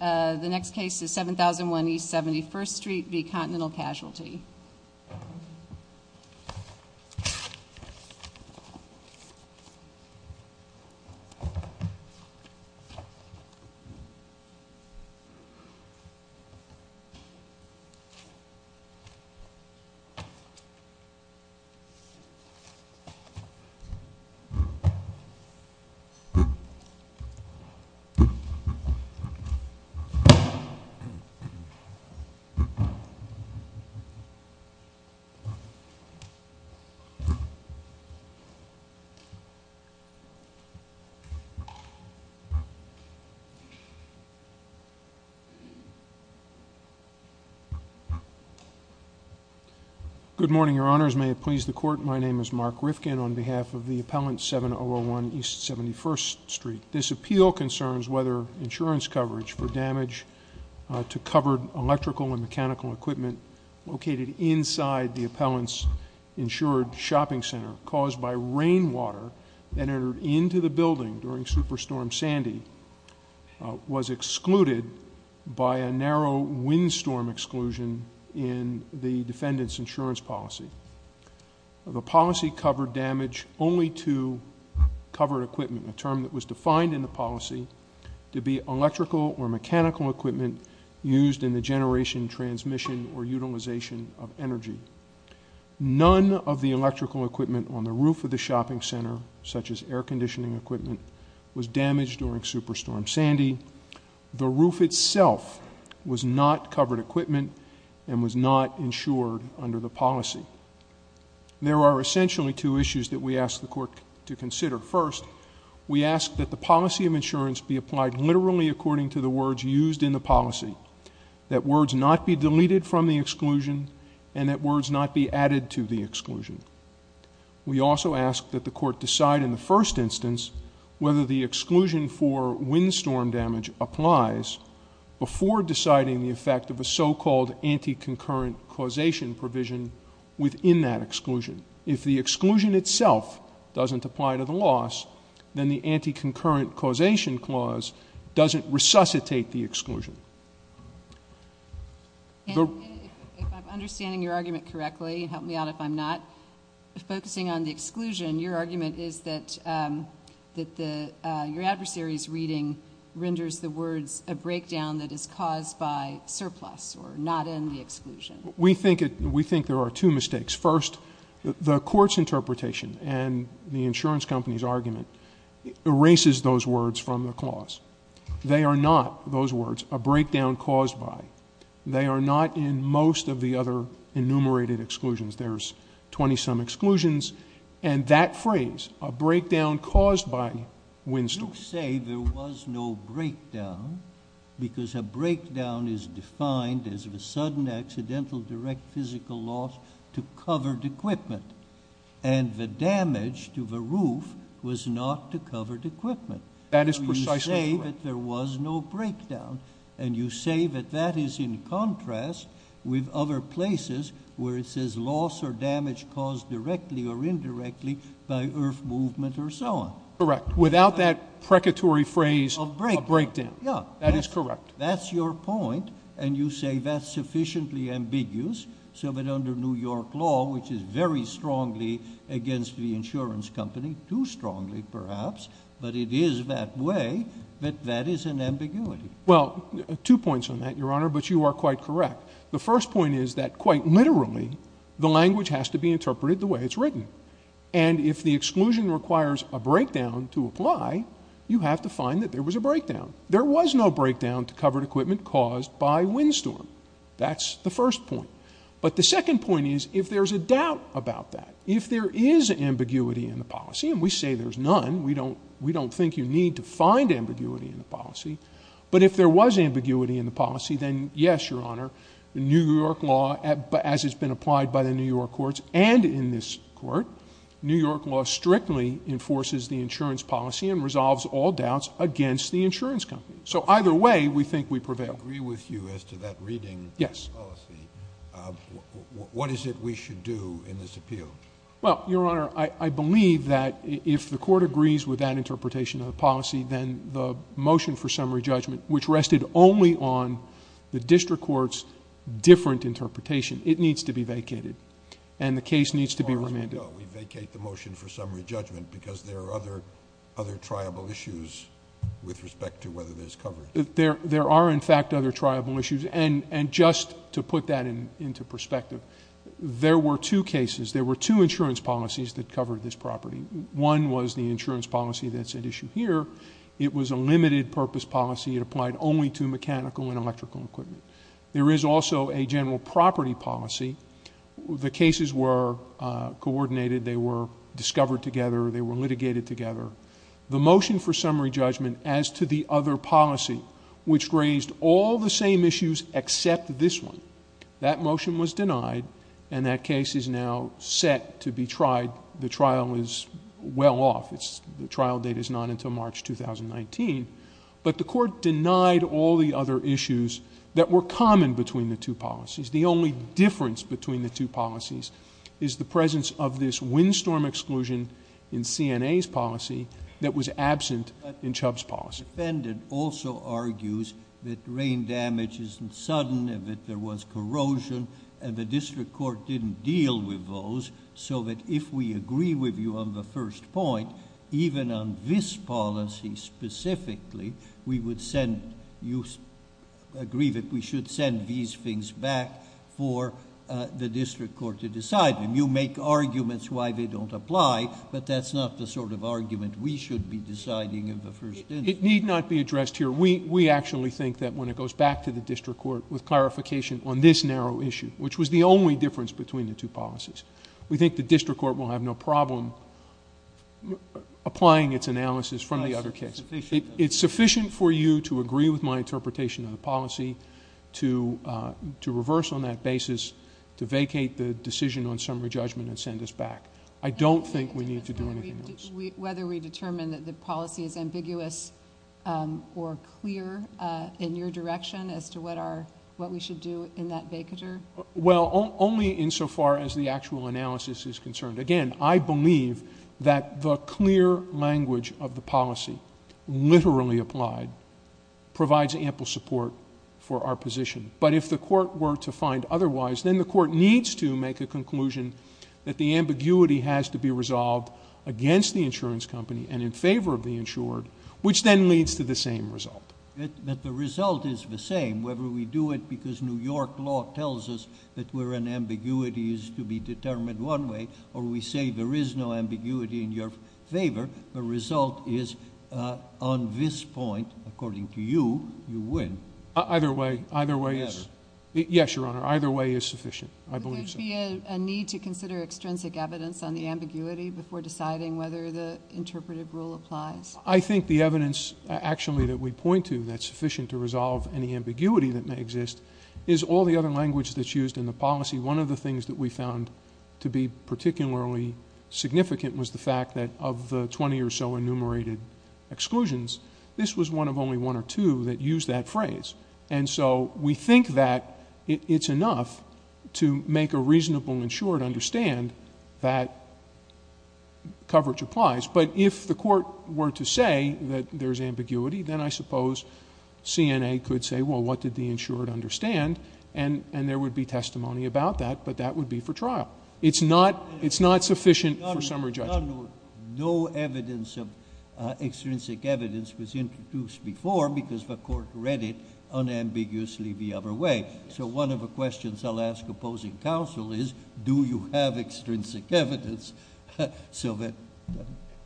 The next case is 7001 East 71st Street v. Continental Casualty. Good morning, your honors. May it please the court, my name is Mark Rifkin on behalf of the appellant 7001 East 71st Street. This appeal concerns whether insurance coverage for damage to covered electrical and mechanical equipment located inside the appellant's insured shopping center caused by rainwater that entered into the building during Superstorm Sandy was excluded by a narrow windstorm exclusion in the defendant's insurance policy. The policy covered damage only to covered equipment, a term that was defined in the policy to be electrical or mechanical equipment used in the generation, transmission, or utilization of energy. None of the electrical equipment on the roof of the shopping center, such as air conditioning equipment, was damaged during Superstorm Sandy. The roof itself was not covered equipment and was not insured under the policy. There are essentially two issues that we ask the court to consider. First, we ask that the policy of insurance be applied literally according to the words used in the policy, that words not be deleted from the exclusion, and that words not be added to the exclusion. We also ask that the court decide in the first instance whether the exclusion for windstorm damage applies before deciding the effect of a so-called anti-concurrent causation provision within that exclusion. If the exclusion itself doesn't apply to the loss, then the anti-concurrent causation clause doesn't resuscitate the exclusion. If I'm understanding your argument correctly, help me out if I'm not, focusing on the exclusion, your argument is that your adversary's reading renders the words a breakdown that is caused by surplus or not in the exclusion. We think there are two mistakes. First, the court's interpretation and the insurance company's argument erases those words from the clause. They are not, those words, a breakdown caused by. They are not in most of the other enumerated exclusions. There's 20-some exclusions, and that phrase, a breakdown caused by windstorms. You say there was no breakdown because a breakdown is defined as a sudden accidental direct physical loss to covered equipment, and the damage to the roof was not to covered equipment. That is precisely correct. You say that there was no breakdown, and you say that that is in contrast with other places where it says loss or damage caused directly or indirectly by earth movement or so on. Correct. Without that precatory phrase of breakdown. That is correct. That's your point, and you say that's sufficiently ambiguous so that under New York law, which is very strongly against the insurance company, too strongly perhaps, but it is that way that that is an ambiguity. Well, two points on that, Your Honor, but you are quite correct. The first point is that quite literally, the language has to be interpreted the way it's written, and if the exclusion requires a breakdown to apply, you have to find that there was a breakdown. There was no breakdown to covered equipment caused by windstorm. That's the first point, but the second point is if there's a doubt about that, if there is ambiguity in the policy, and we say there's none. We don't think you need to find ambiguity in the policy, but if there was ambiguity in the policy, then yes, Your Honor, New York law, as it's been applied by the New York courts and in this court, New York law strictly enforces the insurance policy and resolves all doubts against the insurance company. So either way, we think we prevail. I agree with you as to that reading policy. What is it we should do in this appeal? Well, Your Honor, I believe that if the court agrees with that interpretation of the policy, then the motion for summary judgment, which rested only on the district court's different interpretation, it needs to be vacated, and the case needs to be remanded. As far as we know, we vacate the motion for summary judgment because there are other triable issues with respect to whether there's coverage. There are, in fact, other triable issues, and just to put that into perspective, there were two cases, there were two insurance policies that covered this property. One was the insurance policy that's at issue here. It was a limited purpose policy. It applied only to mechanical and electrical equipment. There is also a general property policy. The cases were coordinated. They were discovered together. They were litigated together. The motion for summary judgment as to the other policy, which raised all the same issues except this one, that motion was denied, and that case is now set to be tried. The trial is well off. The trial date is not until March 2019, but the court denied all the other issues that were common between the two policies. The only difference between the two policies is the presence of this windstorm exclusion in CNA's policy that was absent in Chubb's policy. The defendant also argues that rain damage isn't sudden and that there was corrosion, and the district court didn't deal with those, so that if we agree with you on the first point, even on this policy specifically, we would send... you agree that we should send these things back for the district court to decide them. You make arguments why they don't apply, but that's not the sort of argument we should be deciding in the first instance. Judge Goldberg. It need not be addressed here. We actually think that when it goes back to the district court with clarification on this narrow issue, which was the only difference between the two policies, we think the district court will have no problem applying its analysis from the other case. It's sufficient for you to agree with my interpretation of the policy to reverse on that basis to vacate the decision on summary judgment and send us back. I don't think we need to do anything else. Whether we determine that the policy is ambiguous or clear in your direction as to what we should do in that vacater... Well, only in so far as the actual analysis is concerned. Again, I believe that the clear language of the policy literally applied provides ample support for our position, but if the court were to find otherwise, then the court needs to make a conclusion that the ambiguity has to be resolved against the insurance company and in favor of the insured, which then leads to the same result. But the result is the same, whether we do it because New York law tells us that where an ambiguity is to be determined one way or we say there is no ambiguity in your favor, the result is on this point, according to you, you win. Either way. Either way is... Better. Yes, Your Honor. Either way is sufficient. I believe so. Would there be a need to consider extrinsic evidence on the ambiguity before deciding whether the interpretive rule applies? I think the evidence actually that we point to that's sufficient to resolve any ambiguity that may exist is all the other language that's used in the policy. One of the things that we found to be particularly significant was the fact that of the twenty or so enumerated exclusions, this was one of only one or two that used that phrase. And so, we think that it's enough to make a reasonable insured understand that coverage applies. But if the Court were to say that there's ambiguity, then I suppose CNA could say, well, what did the insured understand? And there would be testimony about that, but that would be for trial. It's not sufficient for summary judgment. No evidence of extrinsic evidence was introduced before because the Court read it unambiguously the other way. So one of the questions I'll ask opposing counsel is, do you have extrinsic evidence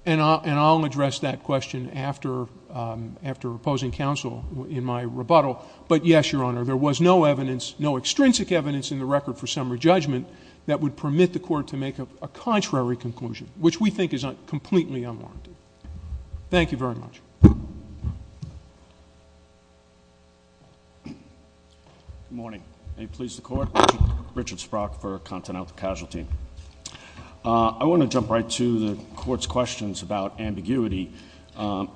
And I'll address that question after opposing counsel in my rebuttal. But yes, Your Honor, there was no evidence, no extrinsic evidence in the record for summary judgment that would permit the Court to make a contrary conclusion, which we think is completely unwarranted. Thank you very much. Good morning. May it please the Court? Richard Sprock for Continental Casualty. I want to jump right to the Court's questions about ambiguity. The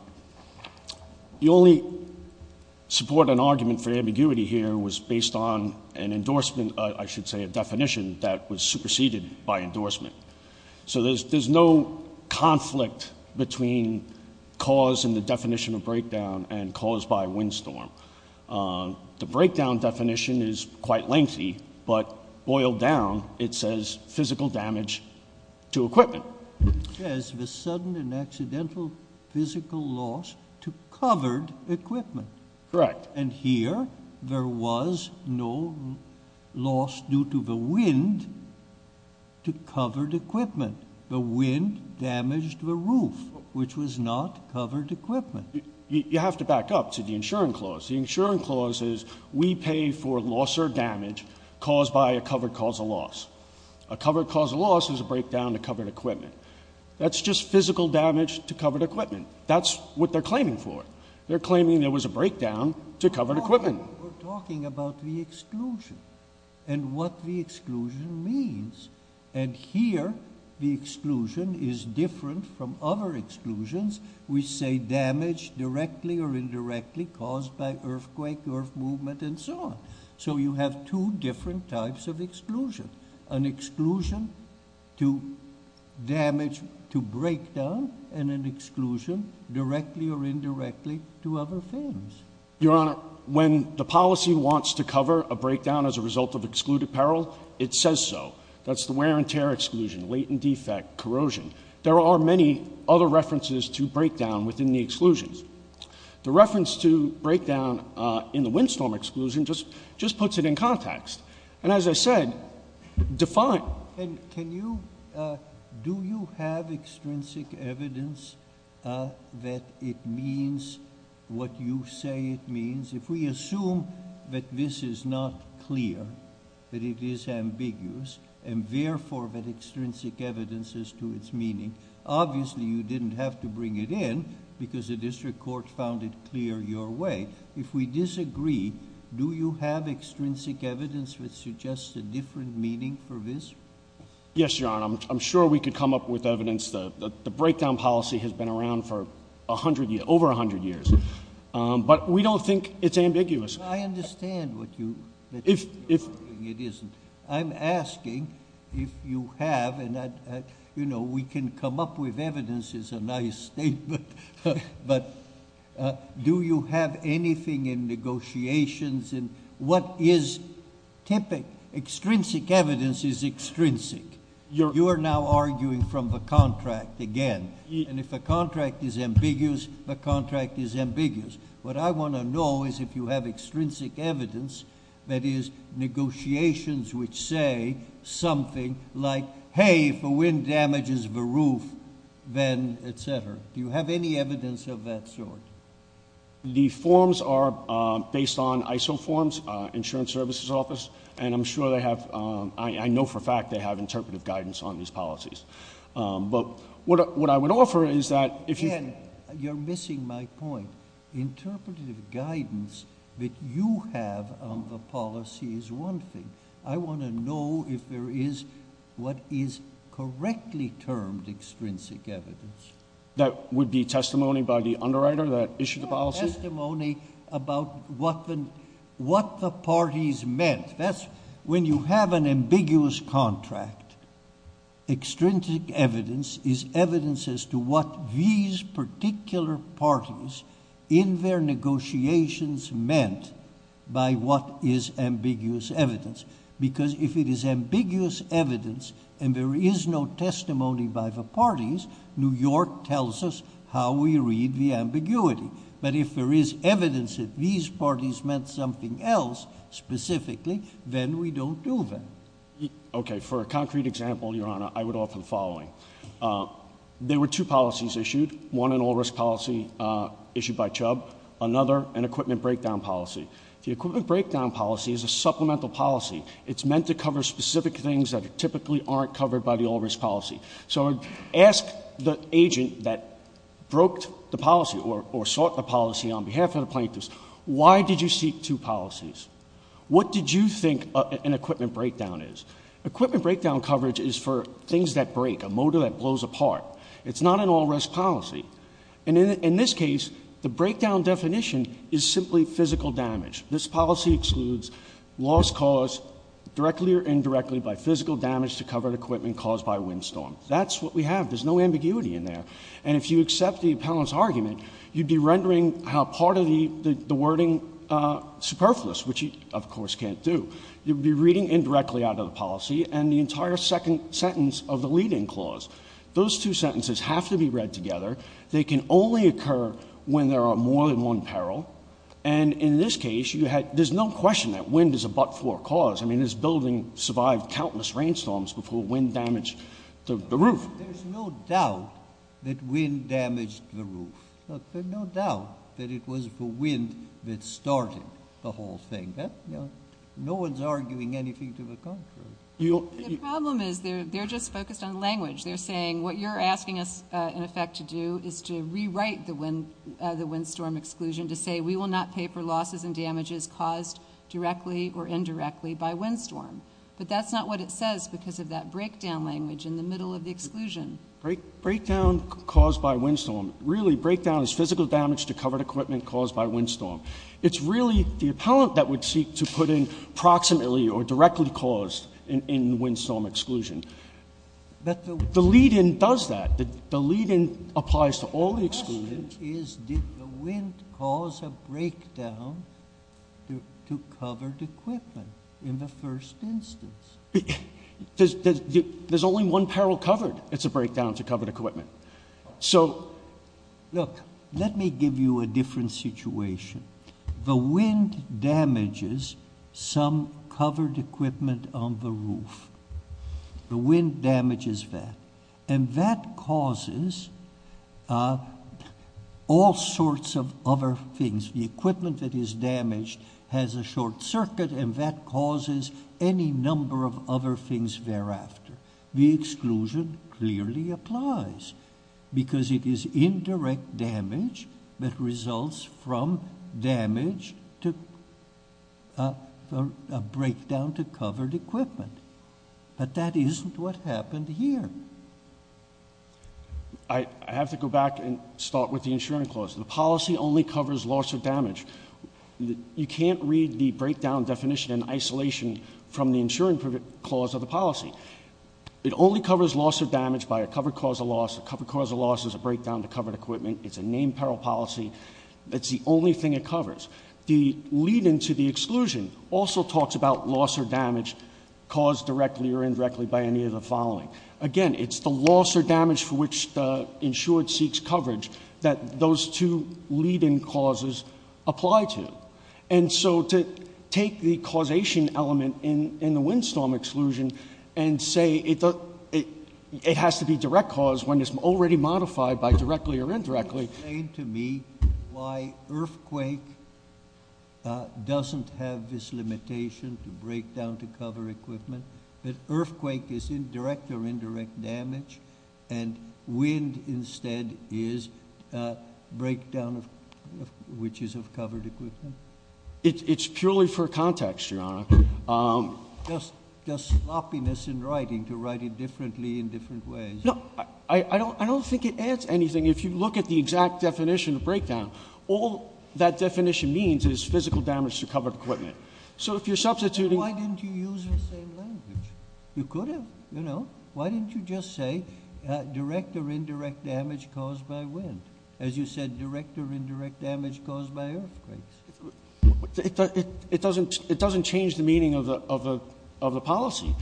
only support and argument for ambiguity here was based on an endorsement, I should say a definition, that was superseded by endorsement. So there's no conflict between cause and the definition of breakdown and cause by windstorm. The breakdown definition is quite lengthy, but boiled down, it says physical damage to equipment. It says the sudden and accidental physical loss to covered equipment. Correct. And here, there was no loss due to the wind to covered equipment. The wind damaged the roof, which was not covered equipment. You have to back up to the insuring clause. The insuring clause is we pay for loss or damage caused by a covered cause of loss. A covered cause of loss is a breakdown to covered equipment. That's just physical damage to covered equipment. That's what they're claiming for. They're claiming there was a breakdown to covered equipment. We're talking about the exclusion and what the exclusion means. And here, the exclusion is different from other exclusions. We say damage directly or indirectly caused by earthquake, earth movement, and so on. So you have two different types of exclusion. An exclusion to damage to breakdown and an exclusion directly or indirectly to other things. Your Honor, when the policy wants to cover a breakdown as a result of excluded peril, it says so. That's the wear and tear exclusion, latent defect, corrosion. There are many other references to breakdown within the exclusions. The reference to breakdown in the windstorm exclusion just puts it in context. And as I said, define. And do you have extrinsic evidence that it means what you say it means? If we assume that this is not clear, that it is ambiguous, and therefore that extrinsic evidence is to its meaning, obviously you didn't have to bring it in because the district court found it clear your way. If we disagree, do you have extrinsic evidence which suggests a different meaning for this? Yes, Your Honor. I'm sure we could come up with evidence. The breakdown policy has been around for over 100 years. But we don't think it's ambiguous. I understand what you're saying it isn't. I'm asking if you have, and we can come up with evidence is a nice statement, but do you have anything in negotiations in what is typical? Extrinsic evidence is extrinsic. You are now arguing from the contract again. And if a contract is ambiguous, the contract is ambiguous. What I want to know is if you have extrinsic evidence, that is, negotiations which say something like, hey, if a wind damages the roof, then, et cetera. Do you have any evidence of that sort? The forms are based on ISO forms, Insurance Services Office. And I'm sure they have, I know for a fact they have interpretive guidance on these policies. But what I would offer is that if you- I'm missing my point. Interpretative guidance that you have on the policy is one thing. I want to know if there is what is correctly termed extrinsic evidence. That would be testimony by the underwriter that issued the policy? Testimony about what the parties meant. When you have an ambiguous contract, extrinsic evidence is evidence as to what these particular parties in their negotiations meant by what is ambiguous evidence. Because if it is ambiguous evidence and there is no testimony by the parties, New York tells us how we read the ambiguity. But if there is evidence that these parties meant something else specifically, then we don't do that. Okay. There were two policies issued, one an all-risk policy issued by Chubb, another an equipment breakdown policy. The equipment breakdown policy is a supplemental policy. It's meant to cover specific things that typically aren't covered by the all-risk policy. So ask the agent that broke the policy or sought the policy on behalf of the plaintiffs, why did you seek two policies? What did you think an equipment breakdown is? Equipment breakdown coverage is for things that break, a motor that blows apart. It's not an all-risk policy. And in this case, the breakdown definition is simply physical damage. This policy excludes loss caused directly or indirectly by physical damage to covered equipment caused by a windstorm. That's what we have. There's no ambiguity in there. And if you accept the appellant's argument, you'd be rendering part of the wording superfluous, which you of course can't do. You'd be reading indirectly out of the policy and the entire second sentence of the leading clause. Those two sentences have to be read together. They can only occur when there are more than one peril. And in this case, you had – there's no question that wind is a but-for cause. I mean, this building survived countless rainstorms before wind damaged the roof. There's no doubt that wind damaged the roof. There's no doubt that it was the wind that started the whole thing. No one's arguing anything to the contrary. The problem is they're just focused on language. They're saying what you're asking us, in effect, to do is to rewrite the windstorm exclusion to say we will not pay for losses and damages caused directly or indirectly by windstorm. But that's not what it says because of that breakdown language in the middle of the exclusion. Breakdown caused by windstorm. Really, breakdown is physical damage to covered equipment caused by windstorm. It's really the appellant that would seek to put in approximately or directly caused in windstorm exclusion. The lead-in does that. The lead-in applies to all the exclusions. The question is, did the wind cause a breakdown to covered equipment in the first instance? There's only one peril covered. It's a breakdown to covered equipment. So, look, let me give you a different situation. The wind damages some covered equipment on the roof. The wind damages that. And that causes all sorts of other things. The equipment that is damaged has a short circuit and that causes any number of other things thereafter. The exclusion clearly applies because it is indirect damage that results from damage to a breakdown to covered equipment. But that isn't what happened here. I have to go back and start with the insurance clause. The policy only covers loss of damage. You can't read the breakdown definition in isolation from the insurance clause of the It only covers loss or damage by a covered cause of loss. A covered cause of loss is a breakdown to covered equipment. It's a named peril policy. That's the only thing it covers. The lead-in to the exclusion also talks about loss or damage caused directly or indirectly by any of the following. Again, it's the loss or damage for which the insured seeks coverage that those two lead-in causes apply to. And so to take the causation element in the windstorm exclusion and say it has to be direct cause when it's already modified by directly or indirectly. Explain to me why earthquake doesn't have this limitation to break down to cover equipment. But earthquake is indirect or indirect damage. And wind instead is breakdown of which is of covered equipment. It's purely for context, Your Honor. Just sloppiness in writing to write it differently in different ways. No, I don't think it adds anything. If you look at the exact definition of breakdown, all that definition means is physical damage to covered equipment. So if you're substituting- Why didn't you use the same language? You could have, you know? Why didn't you just say, direct or indirect damage caused by wind? As you said, direct or indirect damage caused by earthquakes. It doesn't change the meaning of the policy.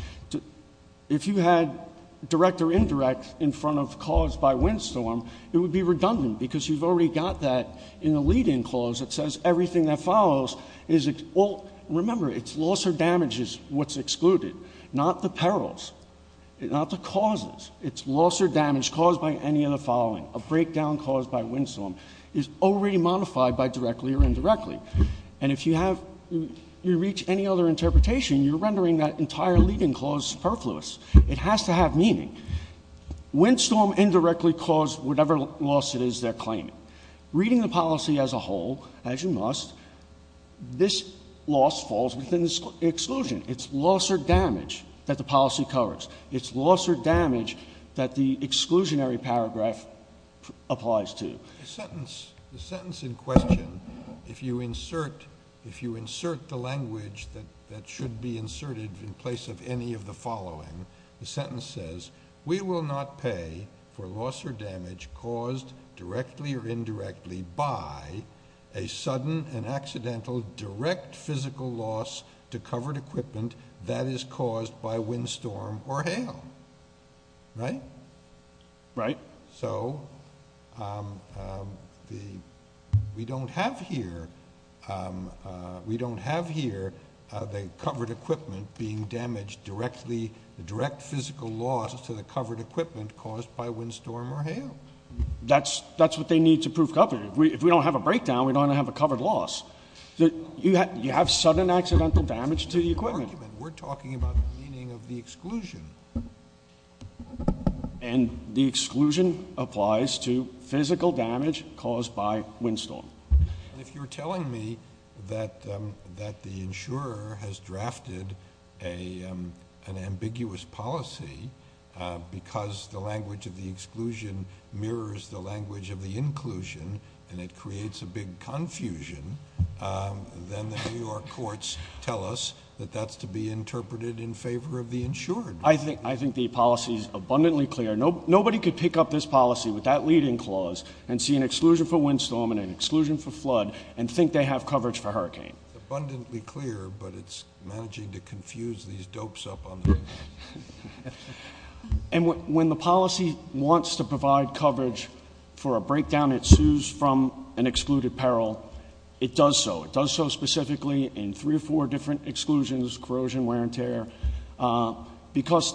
If you had direct or indirect in front of caused by windstorm, it would be redundant. Because you've already got that in the lead-in clause that says everything that follows is, remember, it's loss or damage is what's excluded, not the perils. Not the causes. It's loss or damage caused by any of the following. A breakdown caused by windstorm is already modified by directly or indirectly. And if you reach any other interpretation, you're rendering that entire lead-in clause superfluous. It has to have meaning. Windstorm indirectly caused whatever loss it is they're claiming. Reading the policy as a whole, as you must, this loss falls within the exclusion. It's loss or damage that the policy covers. It's loss or damage that the exclusionary paragraph applies to. The sentence in question, if you insert the language that should be inserted in place of any of the following, the sentence says, we will not pay for loss or damage caused directly or indirectly by a sudden and accidental direct physical loss to covered equipment that is caused by windstorm or hail. Right? Right. So we don't have here the covered equipment being damaged directly, the direct physical loss to the covered equipment caused by windstorm or hail. That's what they need to prove covered. If we don't have a breakdown, we don't have a covered loss. You have sudden accidental damage to the equipment. We're talking about the meaning of the exclusion. And the exclusion applies to physical damage caused by windstorm. And if we don't find an ambiguous policy, because the language of the exclusion mirrors the language of the inclusion and it creates a big confusion, then the New York courts tell us that that's to be interpreted in favor of the insured. I think the policy is abundantly clear. Nobody could pick up this policy with that leading clause and see an exclusion for windstorm and an exclusion for flood and think they have coverage for hurricane. Abundantly clear, but it's managing to confuse these dopes up on the table. And when the policy wants to provide coverage for a breakdown, it sues from an excluded peril. It does so. It does so specifically in three or four different exclusions, corrosion, wear and tear. Because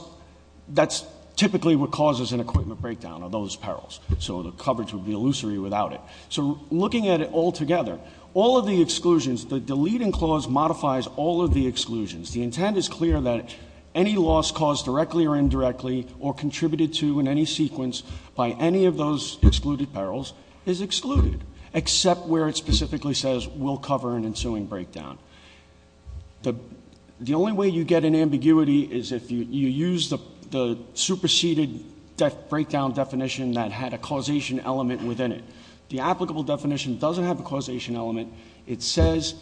that's typically what causes an equipment breakdown, are those perils. So the coverage would be illusory without it. So looking at it all together, all of the exclusions, the deleting clause modifies all of the exclusions. The intent is clear that any loss caused directly or indirectly or contributed to in any sequence by any of those excluded perils is excluded, except where it specifically says we'll cover an ensuing breakdown. The only way you get an ambiguity is if you use the superseded breakdown definition that had a causation element within it. The applicable definition doesn't have a causation element. It says,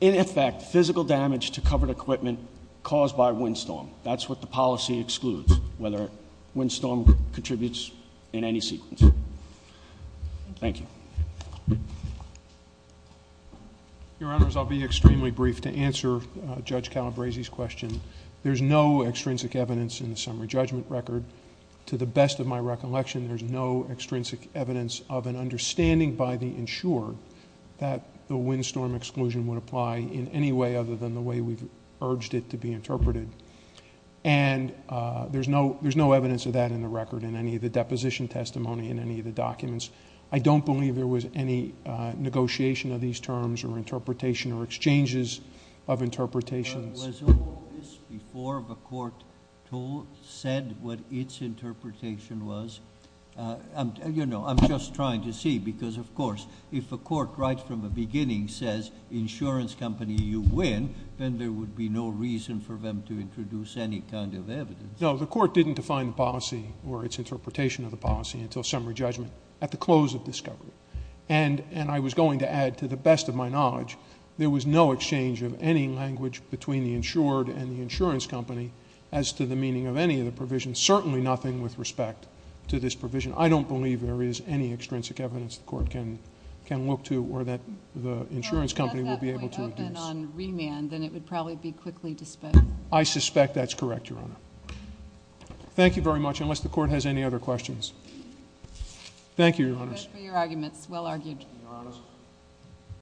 in effect, physical damage to covered equipment caused by a windstorm. That's what the policy excludes, whether a windstorm contributes in any sequence. Thank you. Your Honors, I'll be extremely brief to answer Judge Calabresi's question. There's no extrinsic evidence in the summary judgment record. To the best of my recollection, there's no extrinsic evidence of an understanding by the insured that the windstorm exclusion would apply in any way other than the way we've urged it to be interpreted. And there's no evidence of that in the record in any of the deposition testimony in any of the documents. I don't believe there was any negotiation of these terms or interpretation or exchanges of interpretations. Was all of this before the court said what its interpretation was? I'm just trying to see, because of course, if a court right from the beginning says insurance company, you win. Then there would be no reason for them to introduce any kind of evidence. No, the court didn't define the policy or its interpretation of the policy until summary judgment at the close of discovery. And I was going to add, to the best of my knowledge, there was no exchange of any language between the insured and the insurance company as to the meaning of any of the provisions, certainly nothing with respect to this provision. I don't believe there is any extrinsic evidence the court can look to, or that the insurance company will be able to adduce. If it were left that way open on remand, then it would probably be quickly disposed. I suspect that's correct, Your Honor. Thank you very much, unless the court has any other questions. Thank you, Your Honors. Thank you very much for your arguments, well argued. Your Honors.